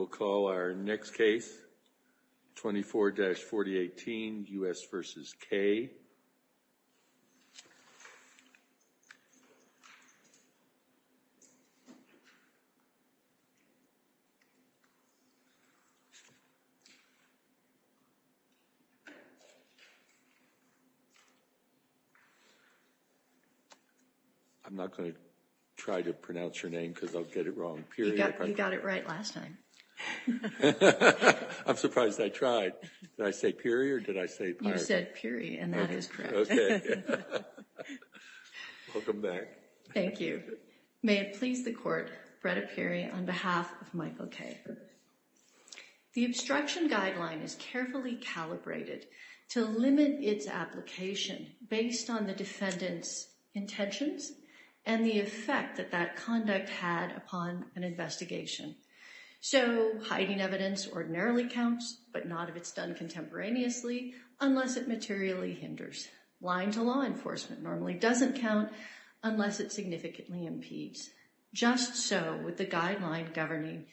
I'm not going to try to pronounce your name because I'll get it wrong. You got it right last time. I'm surprised I tried. Did I say period? Did I say you said period? And that is correct? Okay. Welcome back. Thank you. May it please the court, Brett appearing on behalf of Michael Kay. The obstruction guideline is carefully calibrated to limit its application based on the defendant's intentions and the effect that that conduct had upon an investigation. So hiding evidence ordinarily counts, but not if it's done contemporaneously, unless it materially hinders. Lying to law enforcement normally doesn't count unless it significantly impedes. Just so with the guideline governing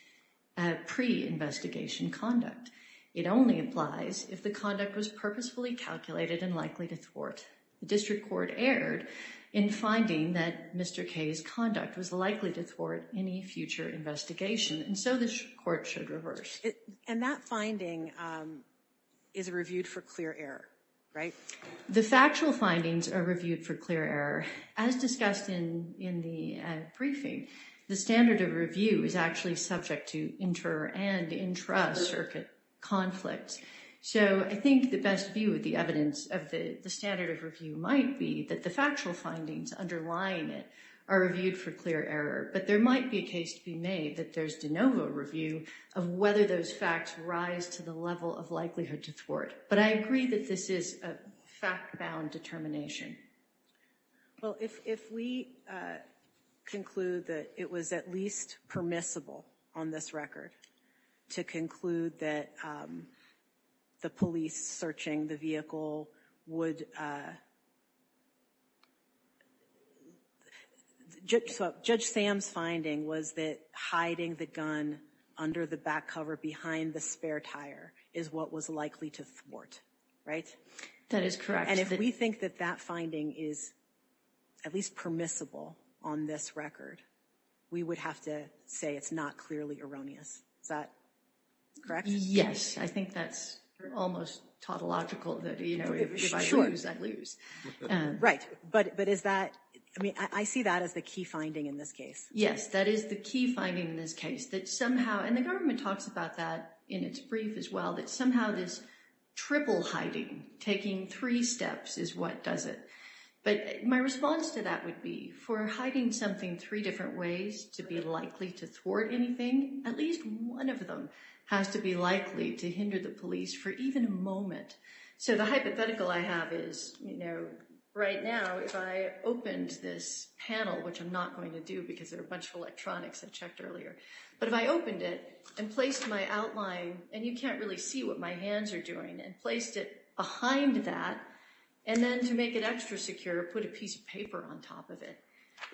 pre-investigation conduct. It only applies if the conduct was purposefully calculated and likely to thwart. The district court erred in finding that Mr. Kay's conduct was likely to thwart any future investigation, and so the court should reverse. And that finding is reviewed for clear error, right? The factual findings are reviewed for clear error. As discussed in the briefing, the standard of review is actually subject to inter and intra circuit conflicts. So I think the best view of the evidence of the standard of review might be that the factual findings underlying it are reviewed for clear error. But there might be a case to be made that there's de novo review of whether those facts rise to the level of likelihood to thwart. But I agree that this is a fact bound determination. Well, if we conclude that it was at least permissible on this record to conclude that the police searching the vehicle would judge judge Sam's finding was that hiding the gun under the back cover behind the spare tire is what was likely to thwart, right? That is correct. And if we think that that finding is at least permissible on this record, we would have to say it's not clearly erroneous. Is that correct? Yes. I think that's almost tautological that, you know, if I lose, I lose. Right. But but is that I mean, I see that as the key finding in this case. Yes, that is the key finding in this case that somehow and the government talks about that in its brief as well, that somehow this triple hiding taking three steps is what does it. But my response to that would be for hiding something three different ways to be likely to thwart anything. At least one of them has to be likely to hinder the police for even a moment. So the hypothetical I have is, you know, right now, if I opened this panel, which I'm not going to do because there are a bunch of electronics I checked earlier. But if I opened it and placed my outline and you can't really see what my hands are doing and placed it behind that and then to make it extra secure, put a piece of paper on top of it.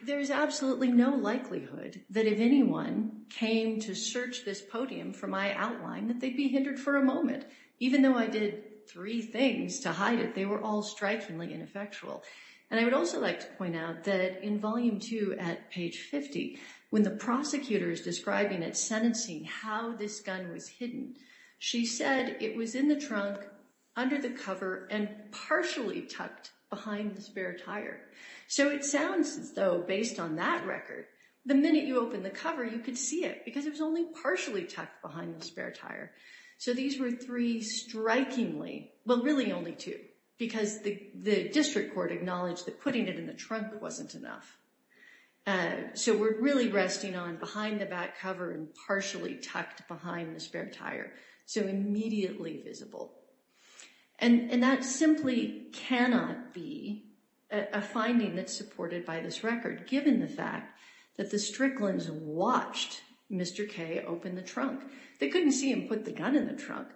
There is absolutely no likelihood that if anyone came to search this podium for my outline, that they'd be hindered for a moment. Even though I did three things to hide it, they were all strikingly ineffectual. And I would also like to point out that in volume two at page 50, when the prosecutor is describing it, sentencing how this gun was hidden, she said it was in the trunk under the cover and partially tucked behind the spare tire. So it sounds as though based on that record, the minute you open the cover, you could see it because it was only partially tucked behind the spare tire. So these were three strikingly, well, really only two, because the district court acknowledged that putting it in the trunk wasn't enough. So we're really resting on behind the back cover and partially tucked behind the spare tire. So immediately visible. And that simply cannot be a finding that's supported by this record, given the fact that the Strickland's watched Mr. Kay open the trunk. They couldn't see him put the gun in the trunk.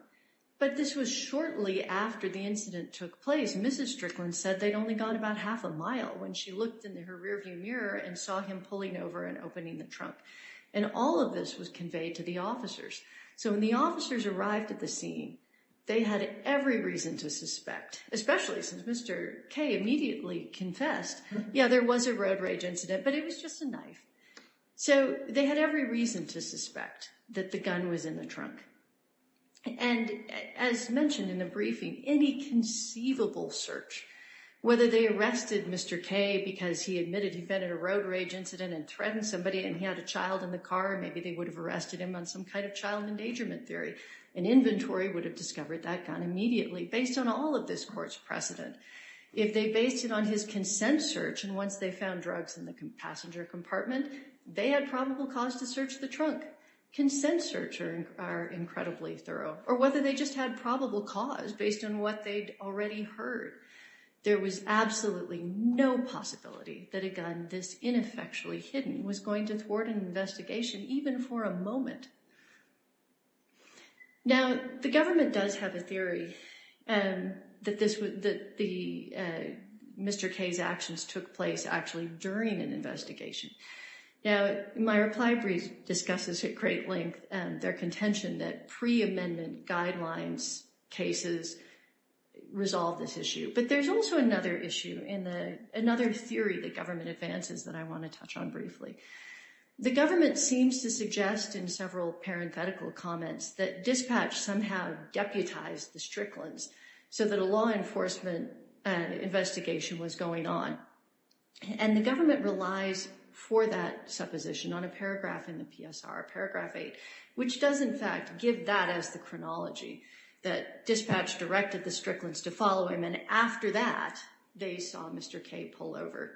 But this was shortly after the incident took place. Mrs. Strickland said they'd only gone about half a mile when she looked in her rearview mirror and saw him pulling over and opening the trunk. And all of this was conveyed to the officers. So when the officers arrived at the scene, they had every reason to suspect, especially since Mr. Kay immediately confessed, yeah, there was a road rage incident, but it was just a knife. So they had every reason to suspect that the gun was in the trunk. And as mentioned in the briefing, any conceivable search, whether they arrested Mr. Kay because he admitted he'd been in a road rage incident and threatened somebody and he had a child in the car, maybe they would have arrested him on some kind of child endangerment theory. An inventory would have discovered that gun immediately, based on all of this court's precedent. If they based it on his consent search and once they found drugs in the passenger compartment, they had probable cause to search the trunk. Consent search are incredibly thorough. Or whether they just had probable cause based on what they'd already heard. There was absolutely no possibility that a gun this ineffectually hidden was going to thwart an investigation, even for a moment. Now, the government does have a theory that Mr. Kay's actions took place actually during an investigation. Now, my reply brief discusses at great length their contention that pre-amendment guidelines cases resolve this issue. But there's also another issue, another theory that government advances that I want to touch on briefly. The government seems to suggest in several parenthetical comments that dispatch somehow deputized the Strickland's so that a law enforcement investigation was going on. And the government relies for that supposition on a paragraph in the PSR, paragraph 8, which does in fact give that as the chronology. That dispatch directed the Strickland's to follow him and after that, they saw Mr. Kay pull over.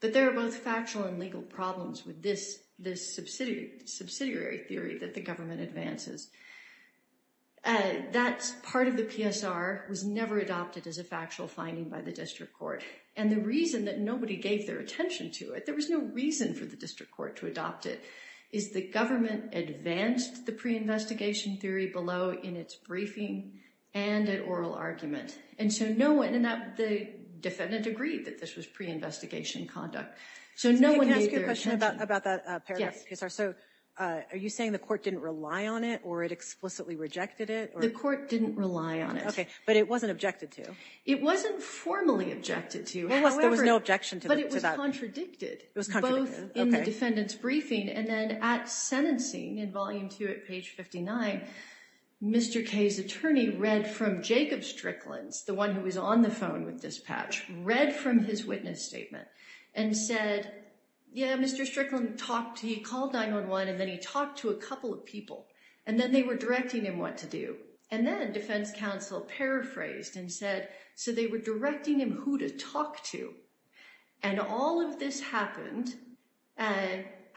But there are both factual and legal problems with this subsidiary theory that the government advances. That's part of the PSR was never adopted as a factual finding by the district court. And the reason that nobody gave their attention to it, there was no reason for the district court to adopt it. Is the government advanced the pre-investigation theory below in its briefing and an oral argument. And so no one in the defendant agreed that this was pre-investigation conduct. So no one can ask you a question about about that. So are you saying the court didn't rely on it or it explicitly rejected it? The court didn't rely on it. But it wasn't objected to. It wasn't formally objected to. There was no objection to that. It was contradicted. Both in the defendant's briefing and then at sentencing in Volume 2 at page 59, Mr. Kay's attorney read from Jacob Strickland's, the one who was on the phone with dispatch, read from his witness statement and said, yeah, Mr. Strickland talked, he called 911 and then he talked to a couple of people and then they were directing him what to do. And then defense counsel paraphrased and said, so they were directing him who to talk to. And all of this happened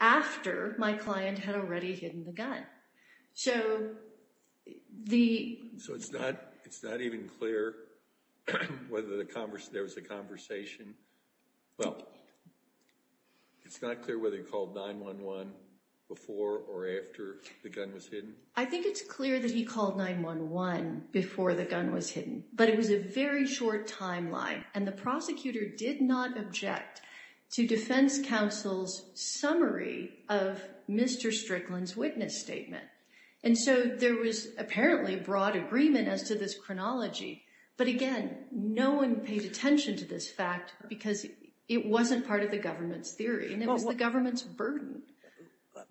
after my client had already hidden the gun. So the. So it's not it's not even clear whether the conversation there was a conversation. Well, it's not clear whether he called 911 before or after the gun was hidden. I think it's clear that he called 911 before the gun was hidden. But it was a very short timeline. And the prosecutor did not object to defense counsel's summary of Mr. Strickland's witness statement. And so there was apparently a broad agreement as to this chronology. But again, no one paid attention to this fact because it wasn't part of the government's theory and it was the government's burden.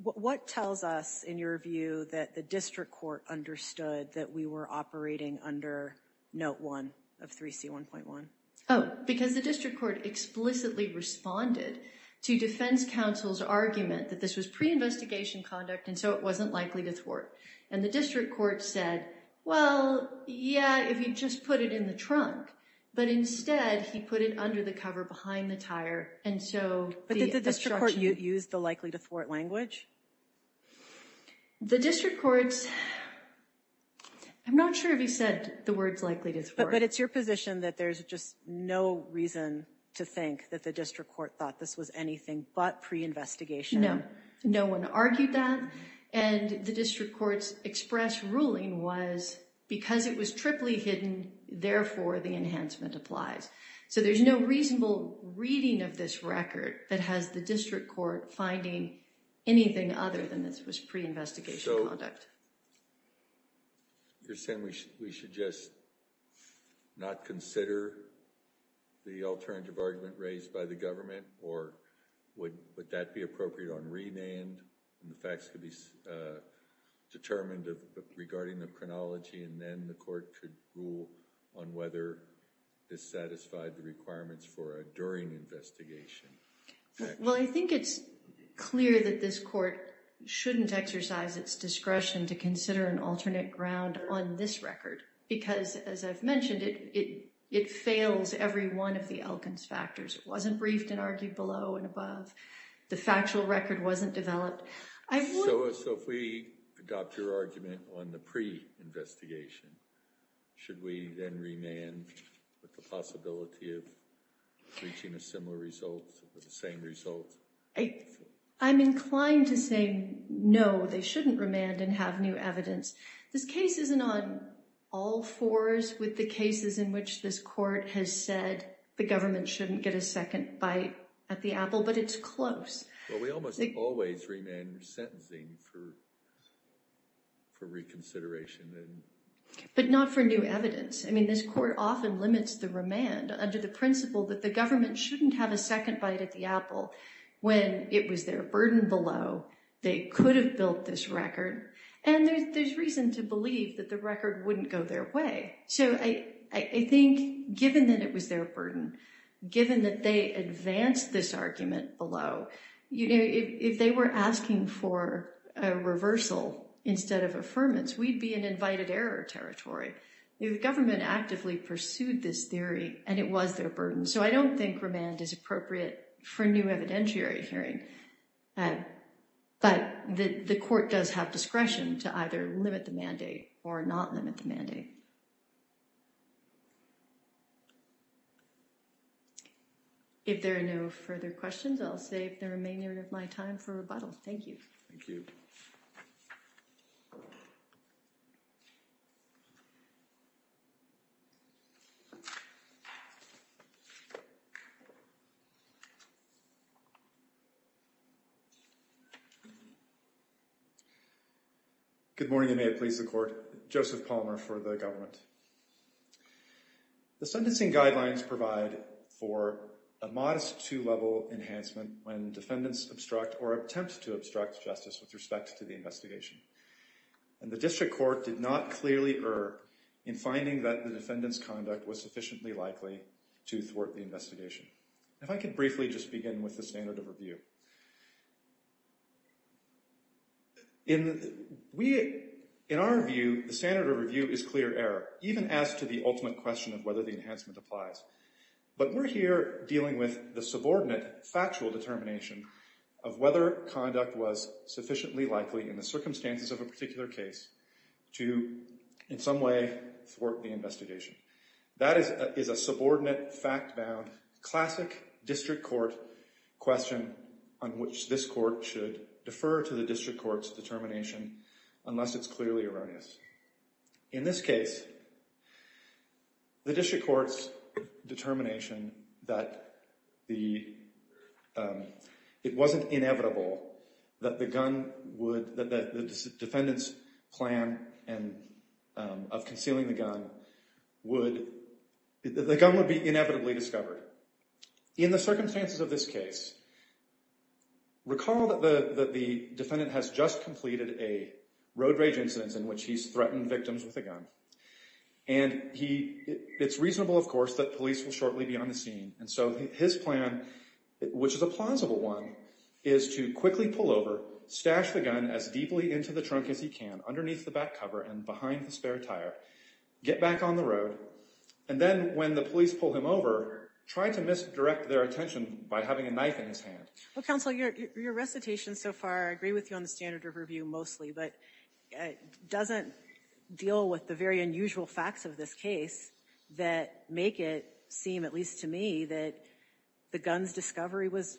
What tells us, in your view, that the district court understood that we were operating under note one of 3C1.1? Oh, because the district court explicitly responded to defense counsel's argument that this was pre-investigation conduct and so it wasn't likely to thwart. And the district court said, well, yeah, if you just put it in the trunk. But instead, he put it under the cover behind the tire. But did the district court use the likely to thwart language? The district courts, I'm not sure if he said the words likely to thwart. But it's your position that there's just no reason to think that the district court thought this was anything but pre-investigation. No, no one argued that. And the district court's express ruling was because it was triply hidden, therefore the enhancement applies. So there's no reasonable reading of this record that has the district court finding anything other than this was pre-investigation conduct. So, you're saying we should just not consider the alternative argument raised by the government? Or would that be appropriate on rename? And the facts could be determined regarding the chronology and then the court could rule on whether this satisfied the requirements for a during investigation. Well, I think it's clear that this court shouldn't exercise its discretion to consider an alternate ground on this record. Because, as I've mentioned, it fails every one of the Elkins factors. It wasn't briefed and argued below and above. The factual record wasn't developed. So if we adopt your argument on the pre-investigation, should we then remand with the possibility of reaching a similar result or the same result? I'm inclined to say no, they shouldn't remand and have new evidence. This case isn't on all fours with the cases in which this court has said the government shouldn't get a second bite at the apple, but it's close. Well, we almost always remand sentencing for reconsideration. But not for new evidence. I mean, this court often limits the remand under the principle that the government shouldn't have a second bite at the apple when it was their burden below. They could have built this record. And there's reason to believe that the record wouldn't go their way. So I think given that it was their burden, given that they advanced this argument below, if they were asking for a reversal instead of affirmance, we'd be in invited error territory. The government actively pursued this theory, and it was their burden. So I don't think remand is appropriate for new evidentiary hearing. But the court does have discretion to either limit the mandate or not limit the mandate. If there are no further questions, I'll save the remainder of my time for rebuttal. Thank you. Thank you. Good morning, and may it please the court. Joseph Palmer for the government. The sentencing guidelines provide for a modest two-level enhancement when defendants obstruct or attempt to obstruct justice with respect to the investigation. And the district court did not clearly err in finding that the defendant's conduct was sufficiently likely to thwart the investigation. If I could briefly just begin with the standard of review. In our view, the standard of review is clear error, even as to the ultimate question of whether the enhancement applies. But we're here dealing with the subordinate factual determination of whether conduct was sufficiently likely in the circumstances of a particular case to in some way thwart the investigation. That is a subordinate, fact-bound, classic district court question on which this court should defer to the district court's determination unless it's clearly erroneous. In this case, the district court's determination that it wasn't inevitable that the defendant's plan of concealing the gun would be inevitably discovered. In the circumstances of this case, recall that the defendant has just completed a road rage incident in which he's threatened victims with a gun. And it's reasonable, of course, that police will shortly be on the scene. And so his plan, which is a plausible one, is to quickly pull over, stash the gun as deeply into the trunk as he can, underneath the back cover and behind the spare tire, get back on the road. And then when the police pull him over, try to misdirect their attention by having a knife in his hand. Well, counsel, your recitation so far, I agree with you on the standard of review mostly, but doesn't deal with the very unusual facts of this case that make it seem, at least to me, that the gun's discovery was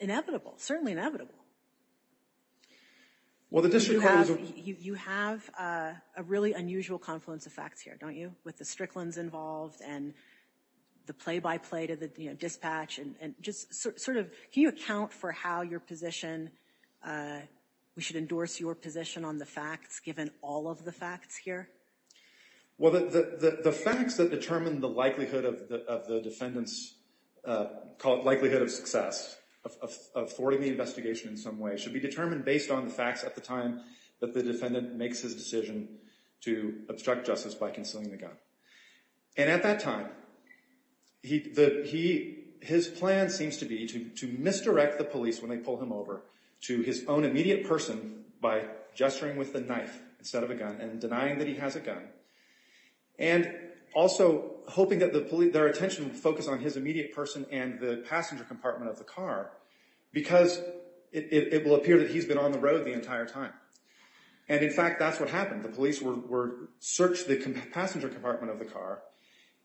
inevitable, certainly inevitable. You have a really unusual confluence of facts here, don't you, with the Strickland's involved and the play-by-play to the dispatch and just sort of, can you account for how your position, we should endorse your position on the facts given all of the facts here? Well, the facts that determine the likelihood of the defendant's, call it likelihood of success, of thwarting the investigation in some way, should be determined based on the facts at the time that the defendant makes his decision to obstruct justice by concealing the gun. And at that time, his plan seems to be to misdirect the police when they pull him over to his own immediate person by gesturing with the knife instead of a gun and denying that he has a gun. And also hoping that their attention would focus on his immediate person and the passenger compartment of the car because it will appear that he's been on the road the entire time. And in fact, that's what happened. The police searched the passenger compartment of the car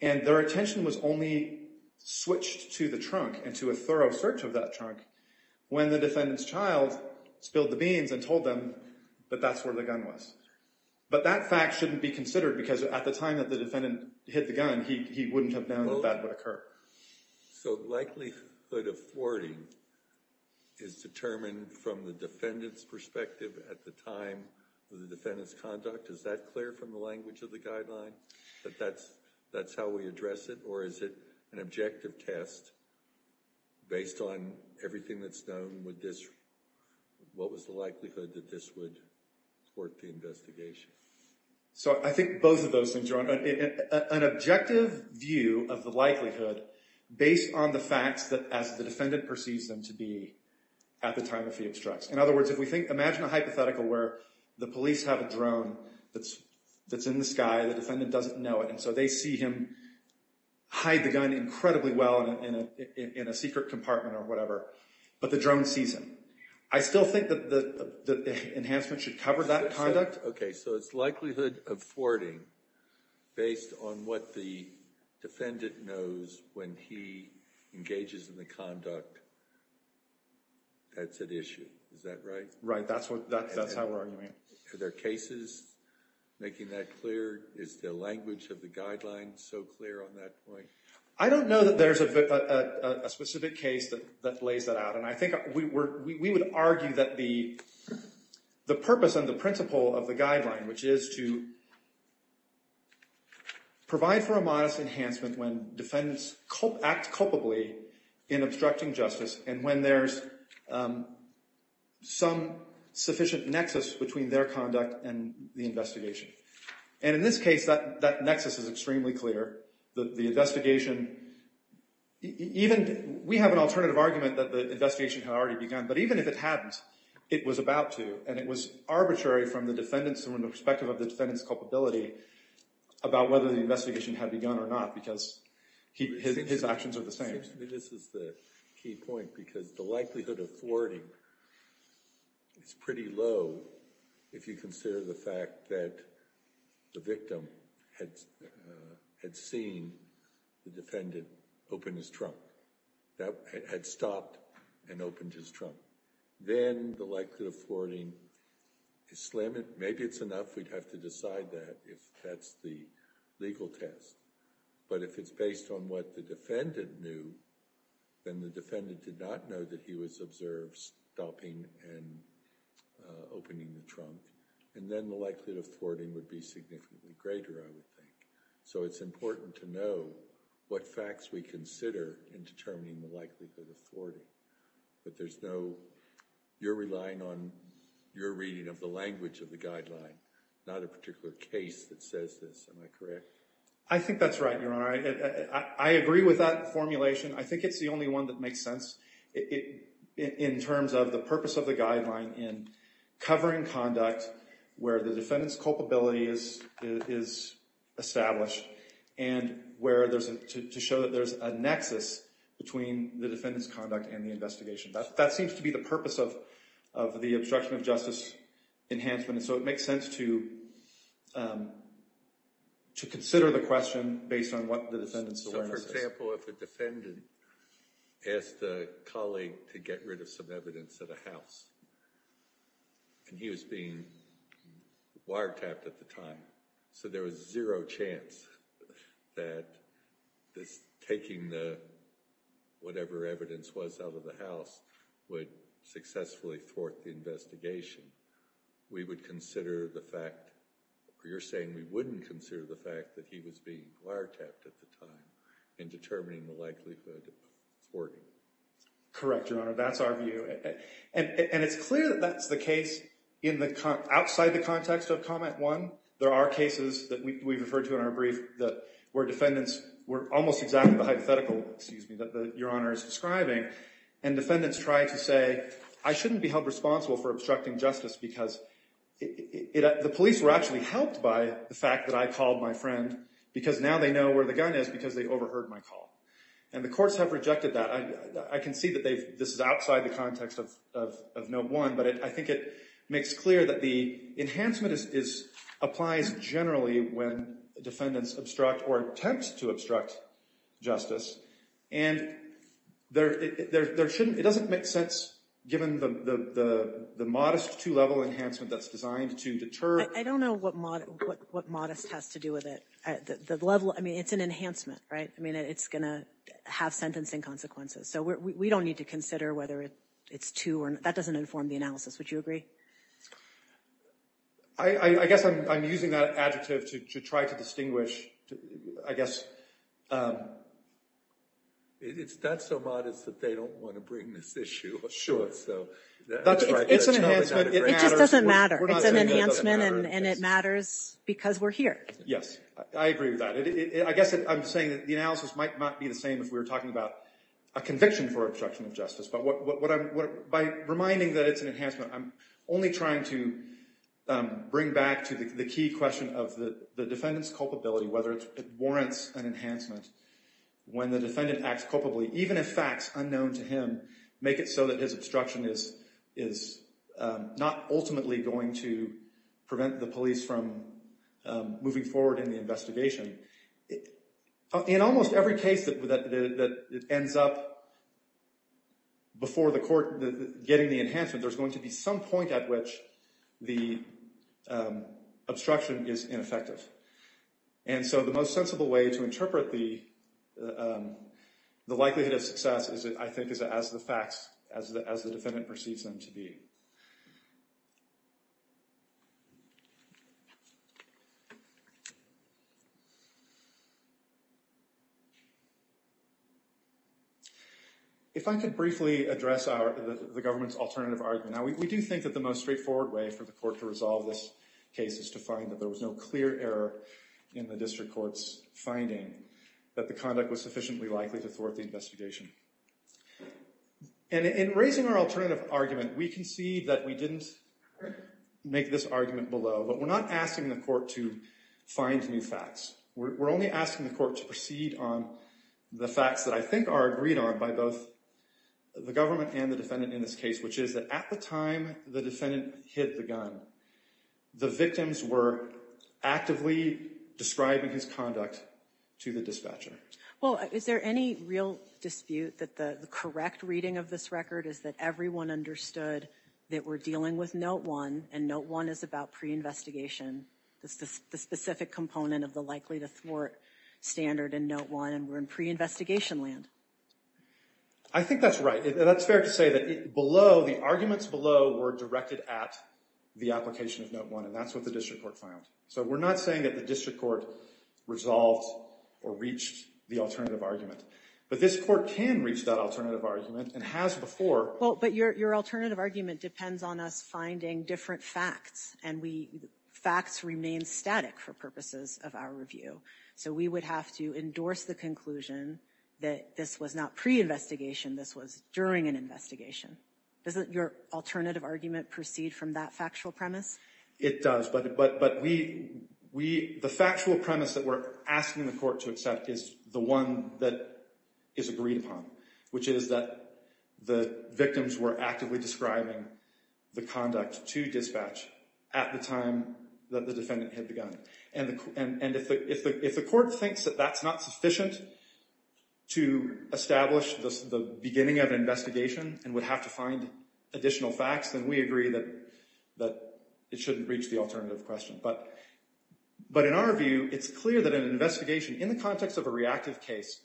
and their attention was only switched to the trunk and to a thorough search of that trunk when the defendant's child spilled the beans and told them that that's where the gun was. But that fact shouldn't be considered because at the time that the defendant hit the gun, he wouldn't have known that that would occur. So likelihood of thwarting is determined from the defendant's perspective at the time of the defendant's conduct? Is that clear from the language of the guideline that that's how we address it? Or is it an objective test based on everything that's known? What was the likelihood that this would thwart the investigation? So I think both of those things are on an objective view of the likelihood based on the facts that as the defendant perceives them to be at the time of the obstructs. In other words, if we think, imagine a hypothetical where the police have a drone that's in the sky, the defendant doesn't know it, and so they see him hide the gun incredibly well in a secret compartment or whatever, but the drone sees him. I still think that the enhancement should cover that conduct. So it's likelihood of thwarting based on what the defendant knows when he engages in the conduct that's at issue. Is that right? Right. That's how we're arguing it. Are there cases making that clear? Is the language of the guideline so clear on that point? I don't know that there's a specific case that lays that out. And I think we would argue that the purpose and the principle of the guideline, which is to provide for a modest enhancement when defendants act culpably in obstructing justice and when there's some sufficient nexus between their conduct and the investigation. And in this case, that nexus is extremely clear. The investigation, even, we have an alternative argument that the investigation had already begun, but even if it hadn't, it was about to. And it was arbitrary from the defendant's, from the perspective of the defendant's culpability about whether the investigation had begun or not because his actions are the same. This is the key point, because the likelihood of thwarting is pretty low if you consider the fact that the victim had seen the defendant open his trunk, had stopped and opened his trunk. Then the likelihood of thwarting is slim. Maybe it's enough we'd have to decide that if that's the legal test. But if it's based on what the defendant knew, then the defendant did not know that he was observed stopping and opening the trunk. And then the likelihood of thwarting would be significantly greater, I would think. So it's important to know what facts we consider in determining the likelihood of thwarting. But there's no, you're relying on your reading of the language of the guideline, not a particular case that says this. Am I correct? I think that's right, Your Honor. I agree with that formulation. I think it's the only one that makes sense in terms of the purpose of the guideline in covering conduct where the defendant's culpability is established and to show that there's a nexus between the defendant's conduct and the investigation. That seems to be the purpose of the obstruction of justice enhancement. And so it makes sense to consider the question based on what the defendant's awareness is. For example, if a defendant asked a colleague to get rid of some evidence at a house and he was being wiretapped at the time, so there was zero chance that taking whatever evidence was out of the house would successfully thwart the investigation, we would consider the fact, or you're saying we wouldn't consider the fact that he was being wiretapped at the time in determining the likelihood of thwarting. Correct, Your Honor. That's our view. And it's clear that that's the case outside the context of comment one. There are cases that we've referred to in our brief where defendants were almost exactly the hypothetical, excuse me, that Your Honor is describing. And defendants try to say, I shouldn't be held responsible for obstructing justice because the police were actually helped by the fact that I called my friend because now they know where the gun is because they overheard my call. And the courts have rejected that. I can see that this is outside the context of note one. But I think it makes clear that the enhancement applies generally when defendants obstruct or attempt to obstruct justice. And it doesn't make sense given the modest two-level enhancement that's designed to deter. I don't know what modest has to do with it. I mean, it's an enhancement, right? I mean, it's going to have sentencing consequences. So we don't need to consider whether it's two or not. That doesn't inform the analysis. Would you agree? I guess I'm using that adjective to try to distinguish, I guess. It's not so modest that they don't want to bring this issue. That's right. It's an enhancement. It just doesn't matter. It's an enhancement and it matters because we're here. Yes. I agree with that. I guess I'm saying that the analysis might not be the same if we were talking about a conviction for obstruction of justice. But by reminding that it's an enhancement, I'm only trying to bring back to the key question of the defendant's culpability, whether it warrants an enhancement when the defendant acts culpably, even if facts unknown to him make it so that his obstruction is not ultimately going to prevent the police from moving forward in the investigation. In almost every case that ends up before the court getting the enhancement, there's going to be some point at which the obstruction is ineffective. And so the most sensible way to interpret the likelihood of success is, I think, as the facts, as the defendant perceives them to be. If I could briefly address the government's alternative argument. Now, we do think that the most straightforward way for the court to resolve this case is to find that there was no clear error in the district court's finding that the conduct was sufficiently likely to thwart the investigation. And in raising our alternative argument, we concede that we didn't make this argument below. But we're not asking the court to find new facts. We're only asking the court to proceed on the facts that I think are agreed on by both the government and the defendant in this case, which is that at the time the defendant hid the gun, the victims were actively describing his conduct to the dispatcher. Well, is there any real dispute that the correct reading of this record is that everyone understood that we're dealing with Note I, and Note I is about pre-investigation, the specific component of the likely-to-thwart standard in Note I, and we're in pre-investigation land? I think that's right. That's fair to say that below, the arguments below were directed at the application of Note I, and that's what the district court found. So we're not saying that the district court resolved or reached the alternative argument. But this court can reach that alternative argument and has before. But your alternative argument depends on us finding different facts, and facts remain static for purposes of our review. So we would have to endorse the conclusion that this was not pre-investigation, this was during an investigation. Doesn't your alternative argument proceed from that factual premise? It does. But the factual premise that we're asking the court to accept is the one that is agreed upon, which is that the victims were actively describing the conduct to dispatch at the time that the defendant hid the gun. And if the court thinks that that's not sufficient to establish the beginning of an investigation and would have to find additional facts, then we agree that it shouldn't reach the alternative question. But in our view, it's clear that an investigation in the context of a reactive case,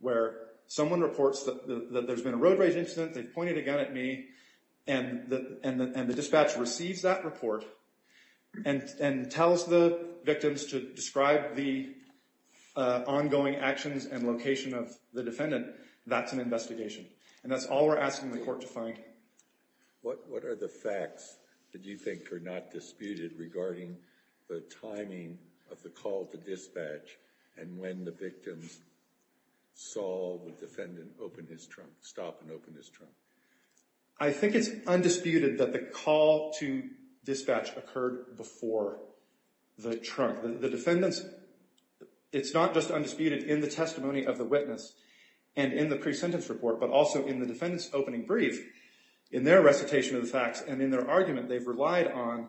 where someone reports that there's been a road rage incident, they've pointed a gun at me, and the dispatch receives that report and tells the victims to describe the ongoing actions and location of the defendant, that's an investigation. And that's all we're asking the court to find. What are the facts that you think are not disputed regarding the timing of the call to dispatch and when the victims saw the defendant stop and open his trunk? I think it's undisputed that the call to dispatch occurred before the trunk. The defendants, it's not just undisputed in the testimony of the witness and in the pre-sentence report, but also in the defendant's opening brief, in their recitation of the facts and in their argument, they've relied on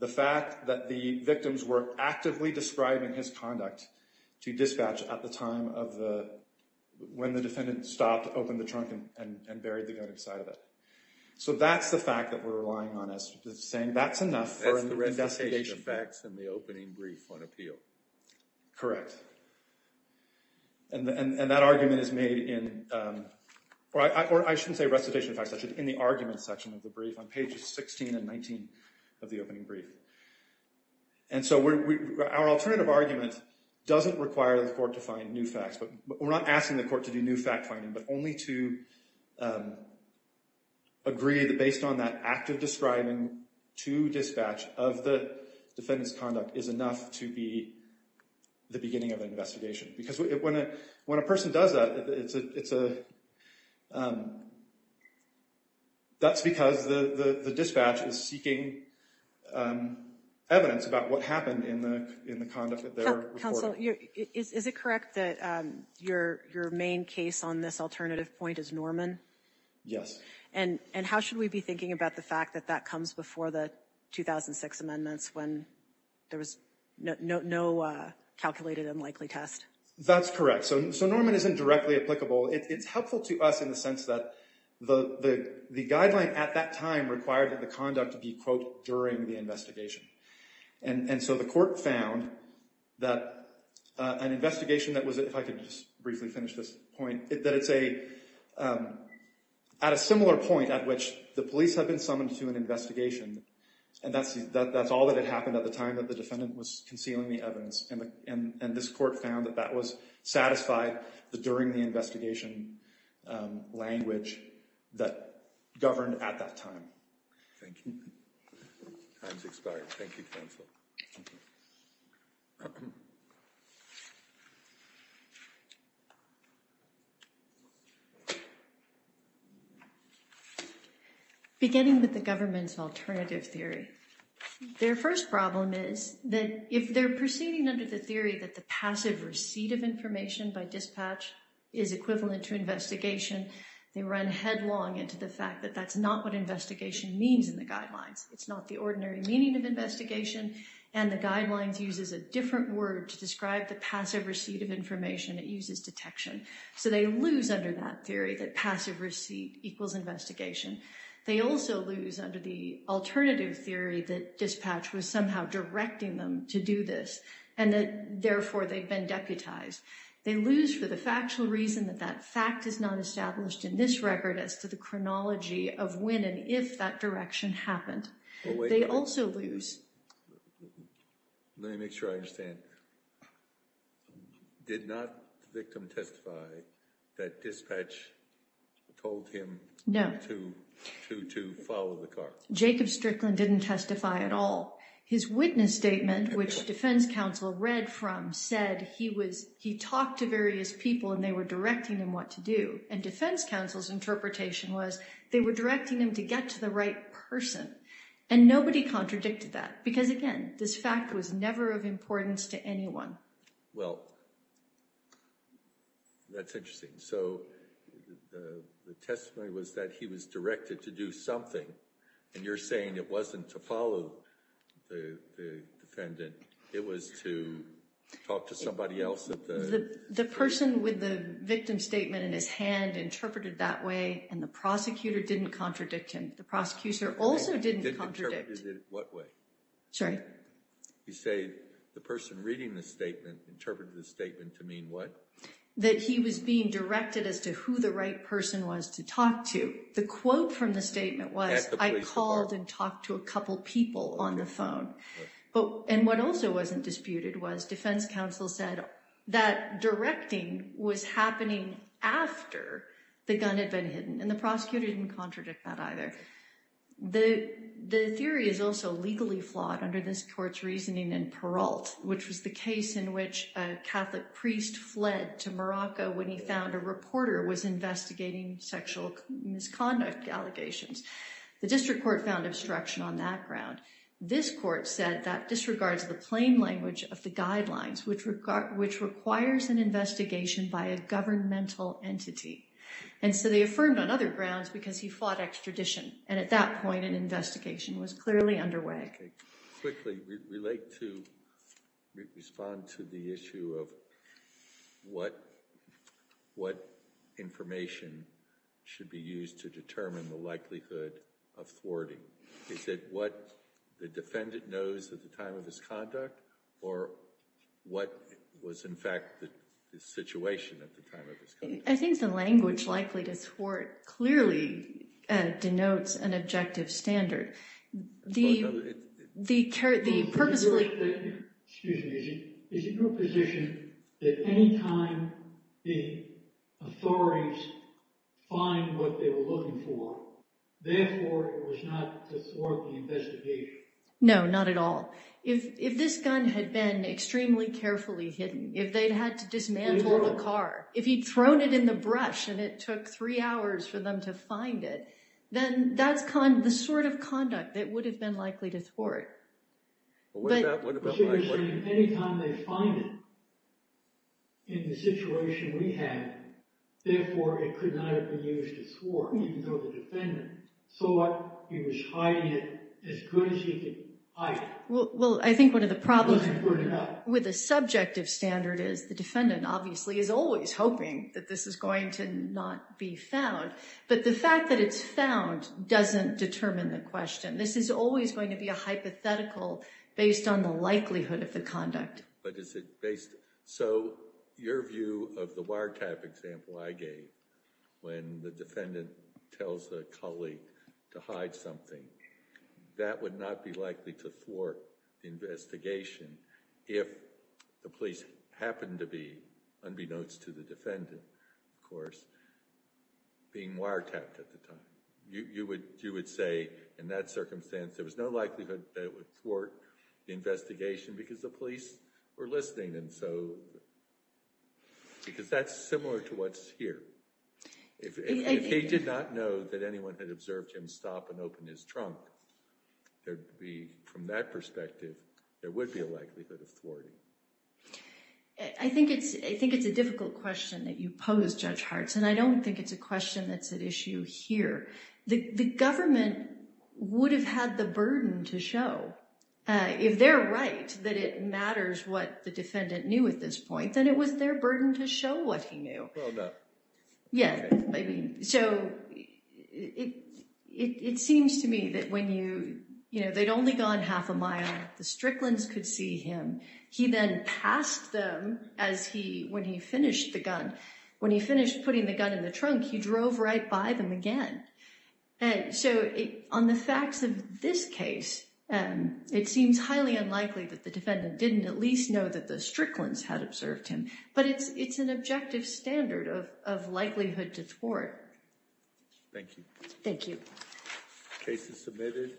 the fact that the victims were actively describing his conduct to dispatch at the time when the defendant stopped, opened the trunk, and buried the gun inside of it. So that's the fact that we're relying on as saying that's enough for an investigation. That's the recitation of facts in the opening brief on appeal. Correct. And that argument is made in, or I shouldn't say recitation of facts, I should say in the argument section of the brief on pages 16 and 19 of the opening brief. And so our alternative argument doesn't require the court to find new facts. We're not asking the court to do new fact finding, but only to agree that based on that active describing to dispatch of the defendant's conduct is enough to be the beginning of an investigation. Because when a person does that, that's because the dispatch is seeking evidence about what happened in the conduct that they were reporting. Counsel, is it correct that your main case on this alternative point is Norman? Yes. And how should we be thinking about the fact that that comes before the 2006 amendments when there was no calculated and likely test? That's correct. So Norman isn't directly applicable. It's helpful to us in the sense that the guideline at that time required that the conduct be, quote, during the investigation. And so the court found that an investigation that was, if I could just briefly finish this point, that it's at a similar point at which the police have been summoned to an investigation, and that's all that had happened at the time that the defendant was concealing the evidence. And this court found that that was satisfied during the investigation language that governed at that time. Thank you. Time's expired. Thank you, counsel. Thank you. Beginning with the government's alternative theory. Their first problem is that if they're proceeding under the theory that the passive receipt of information by dispatch is equivalent to investigation, they run headlong into the fact that that's not what investigation means in the guidelines. It's not the ordinary meaning of investigation, and the guidelines uses a different word to describe the passive receipt of information. It uses detection. So they lose under that theory that passive receipt equals investigation. They also lose under the alternative theory that dispatch was somehow directing them to do this and that, therefore, they've been deputized. They lose for the factual reason that that fact is not established in this record as to the chronology of when and if that direction happened. They also lose. Let me make sure I understand. Did not the victim testify that dispatch told him to follow the car? No. Jacob Strickland didn't testify at all. His witness statement, which defense counsel read from, said he talked to various people and they were directing him what to do, and defense counsel's interpretation was they were directing him to get to the right person, and nobody contradicted that because, again, this fact was never of importance to anyone. Well, that's interesting. So the testimony was that he was directed to do something, and you're saying it wasn't to follow the defendant. It was to talk to somebody else. The person with the victim's statement in his hand interpreted it that way, and the prosecutor didn't contradict him. The prosecutor also didn't contradict him. Didn't interpret it in what way? Sorry? You say the person reading the statement interpreted the statement to mean what? That he was being directed as to who the right person was to talk to. The quote from the statement was, I called and talked to a couple people on the phone. And what also wasn't disputed was defense counsel said that directing was happening after the gun had been hidden, and the prosecutor didn't contradict that either. The theory is also legally flawed under this court's reasoning in Peralt, which was the case in which a Catholic priest fled to Morocco when he found a reporter was investigating sexual misconduct allegations. The district court found obstruction on that ground. This court said that disregards the plain language of the guidelines, which requires an investigation by a governmental entity. And so they affirmed on other grounds because he fought extradition, and at that point an investigation was clearly underway. Quickly, we'd like to respond to the issue of what information should be used to determine the likelihood of thwarting. Is it what the defendant knows at the time of his conduct, or what was in fact the situation at the time of his conduct? I think the language likely to thwart clearly denotes an objective standard. Excuse me, is it your position that any time the authorities find what they were looking for, therefore it was not to thwart the investigation? No, not at all. If this gun had been extremely carefully hidden, if they'd had to dismantle the car, if he'd thrown it in the brush and it took three hours for them to find it, then that's the sort of conduct that would have been likely to thwart. What about my question? Anytime they find it in the situation we had, therefore it could not have been used to thwart, even though the defendant thought he was hiding it as good as he could hide it. Well, I think one of the problems with a subjective standard is the defendant, obviously, is always hoping that this is going to not be found. But the fact that it's found doesn't determine the question. This is always going to be a hypothetical based on the likelihood of the conduct. So your view of the wiretap example I gave, when the defendant tells a colleague to hide something, that would not be likely to thwart the investigation if the police happened to be, unbeknownst to the defendant, of course, being wiretapped at the time. You would say, in that circumstance, there was no likelihood that it would thwart the investigation because the police were listening. Because that's similar to what's here. If he did not know that anyone had observed him stop and open his trunk, from that perspective, there would be a likelihood of thwarting. I think it's a difficult question that you pose, Judge Hartz, and I don't think it's a question that's at issue here. The government would have had the burden to show. If they're right that it matters what the defendant knew at this point, then it was their burden to show what he knew. Well, no. Yes. So it seems to me that when you, you know, they'd only gone half a mile, the Stricklands could see him. He then passed them as he, when he finished the gun. When he finished putting the gun in the trunk, he drove right by them again. And so on the facts of this case, it seems highly unlikely that the defendant didn't at least know that the Stricklands had observed him. But it's an objective standard of likelihood to thwart. Thank you. Thank you. The case is submitted.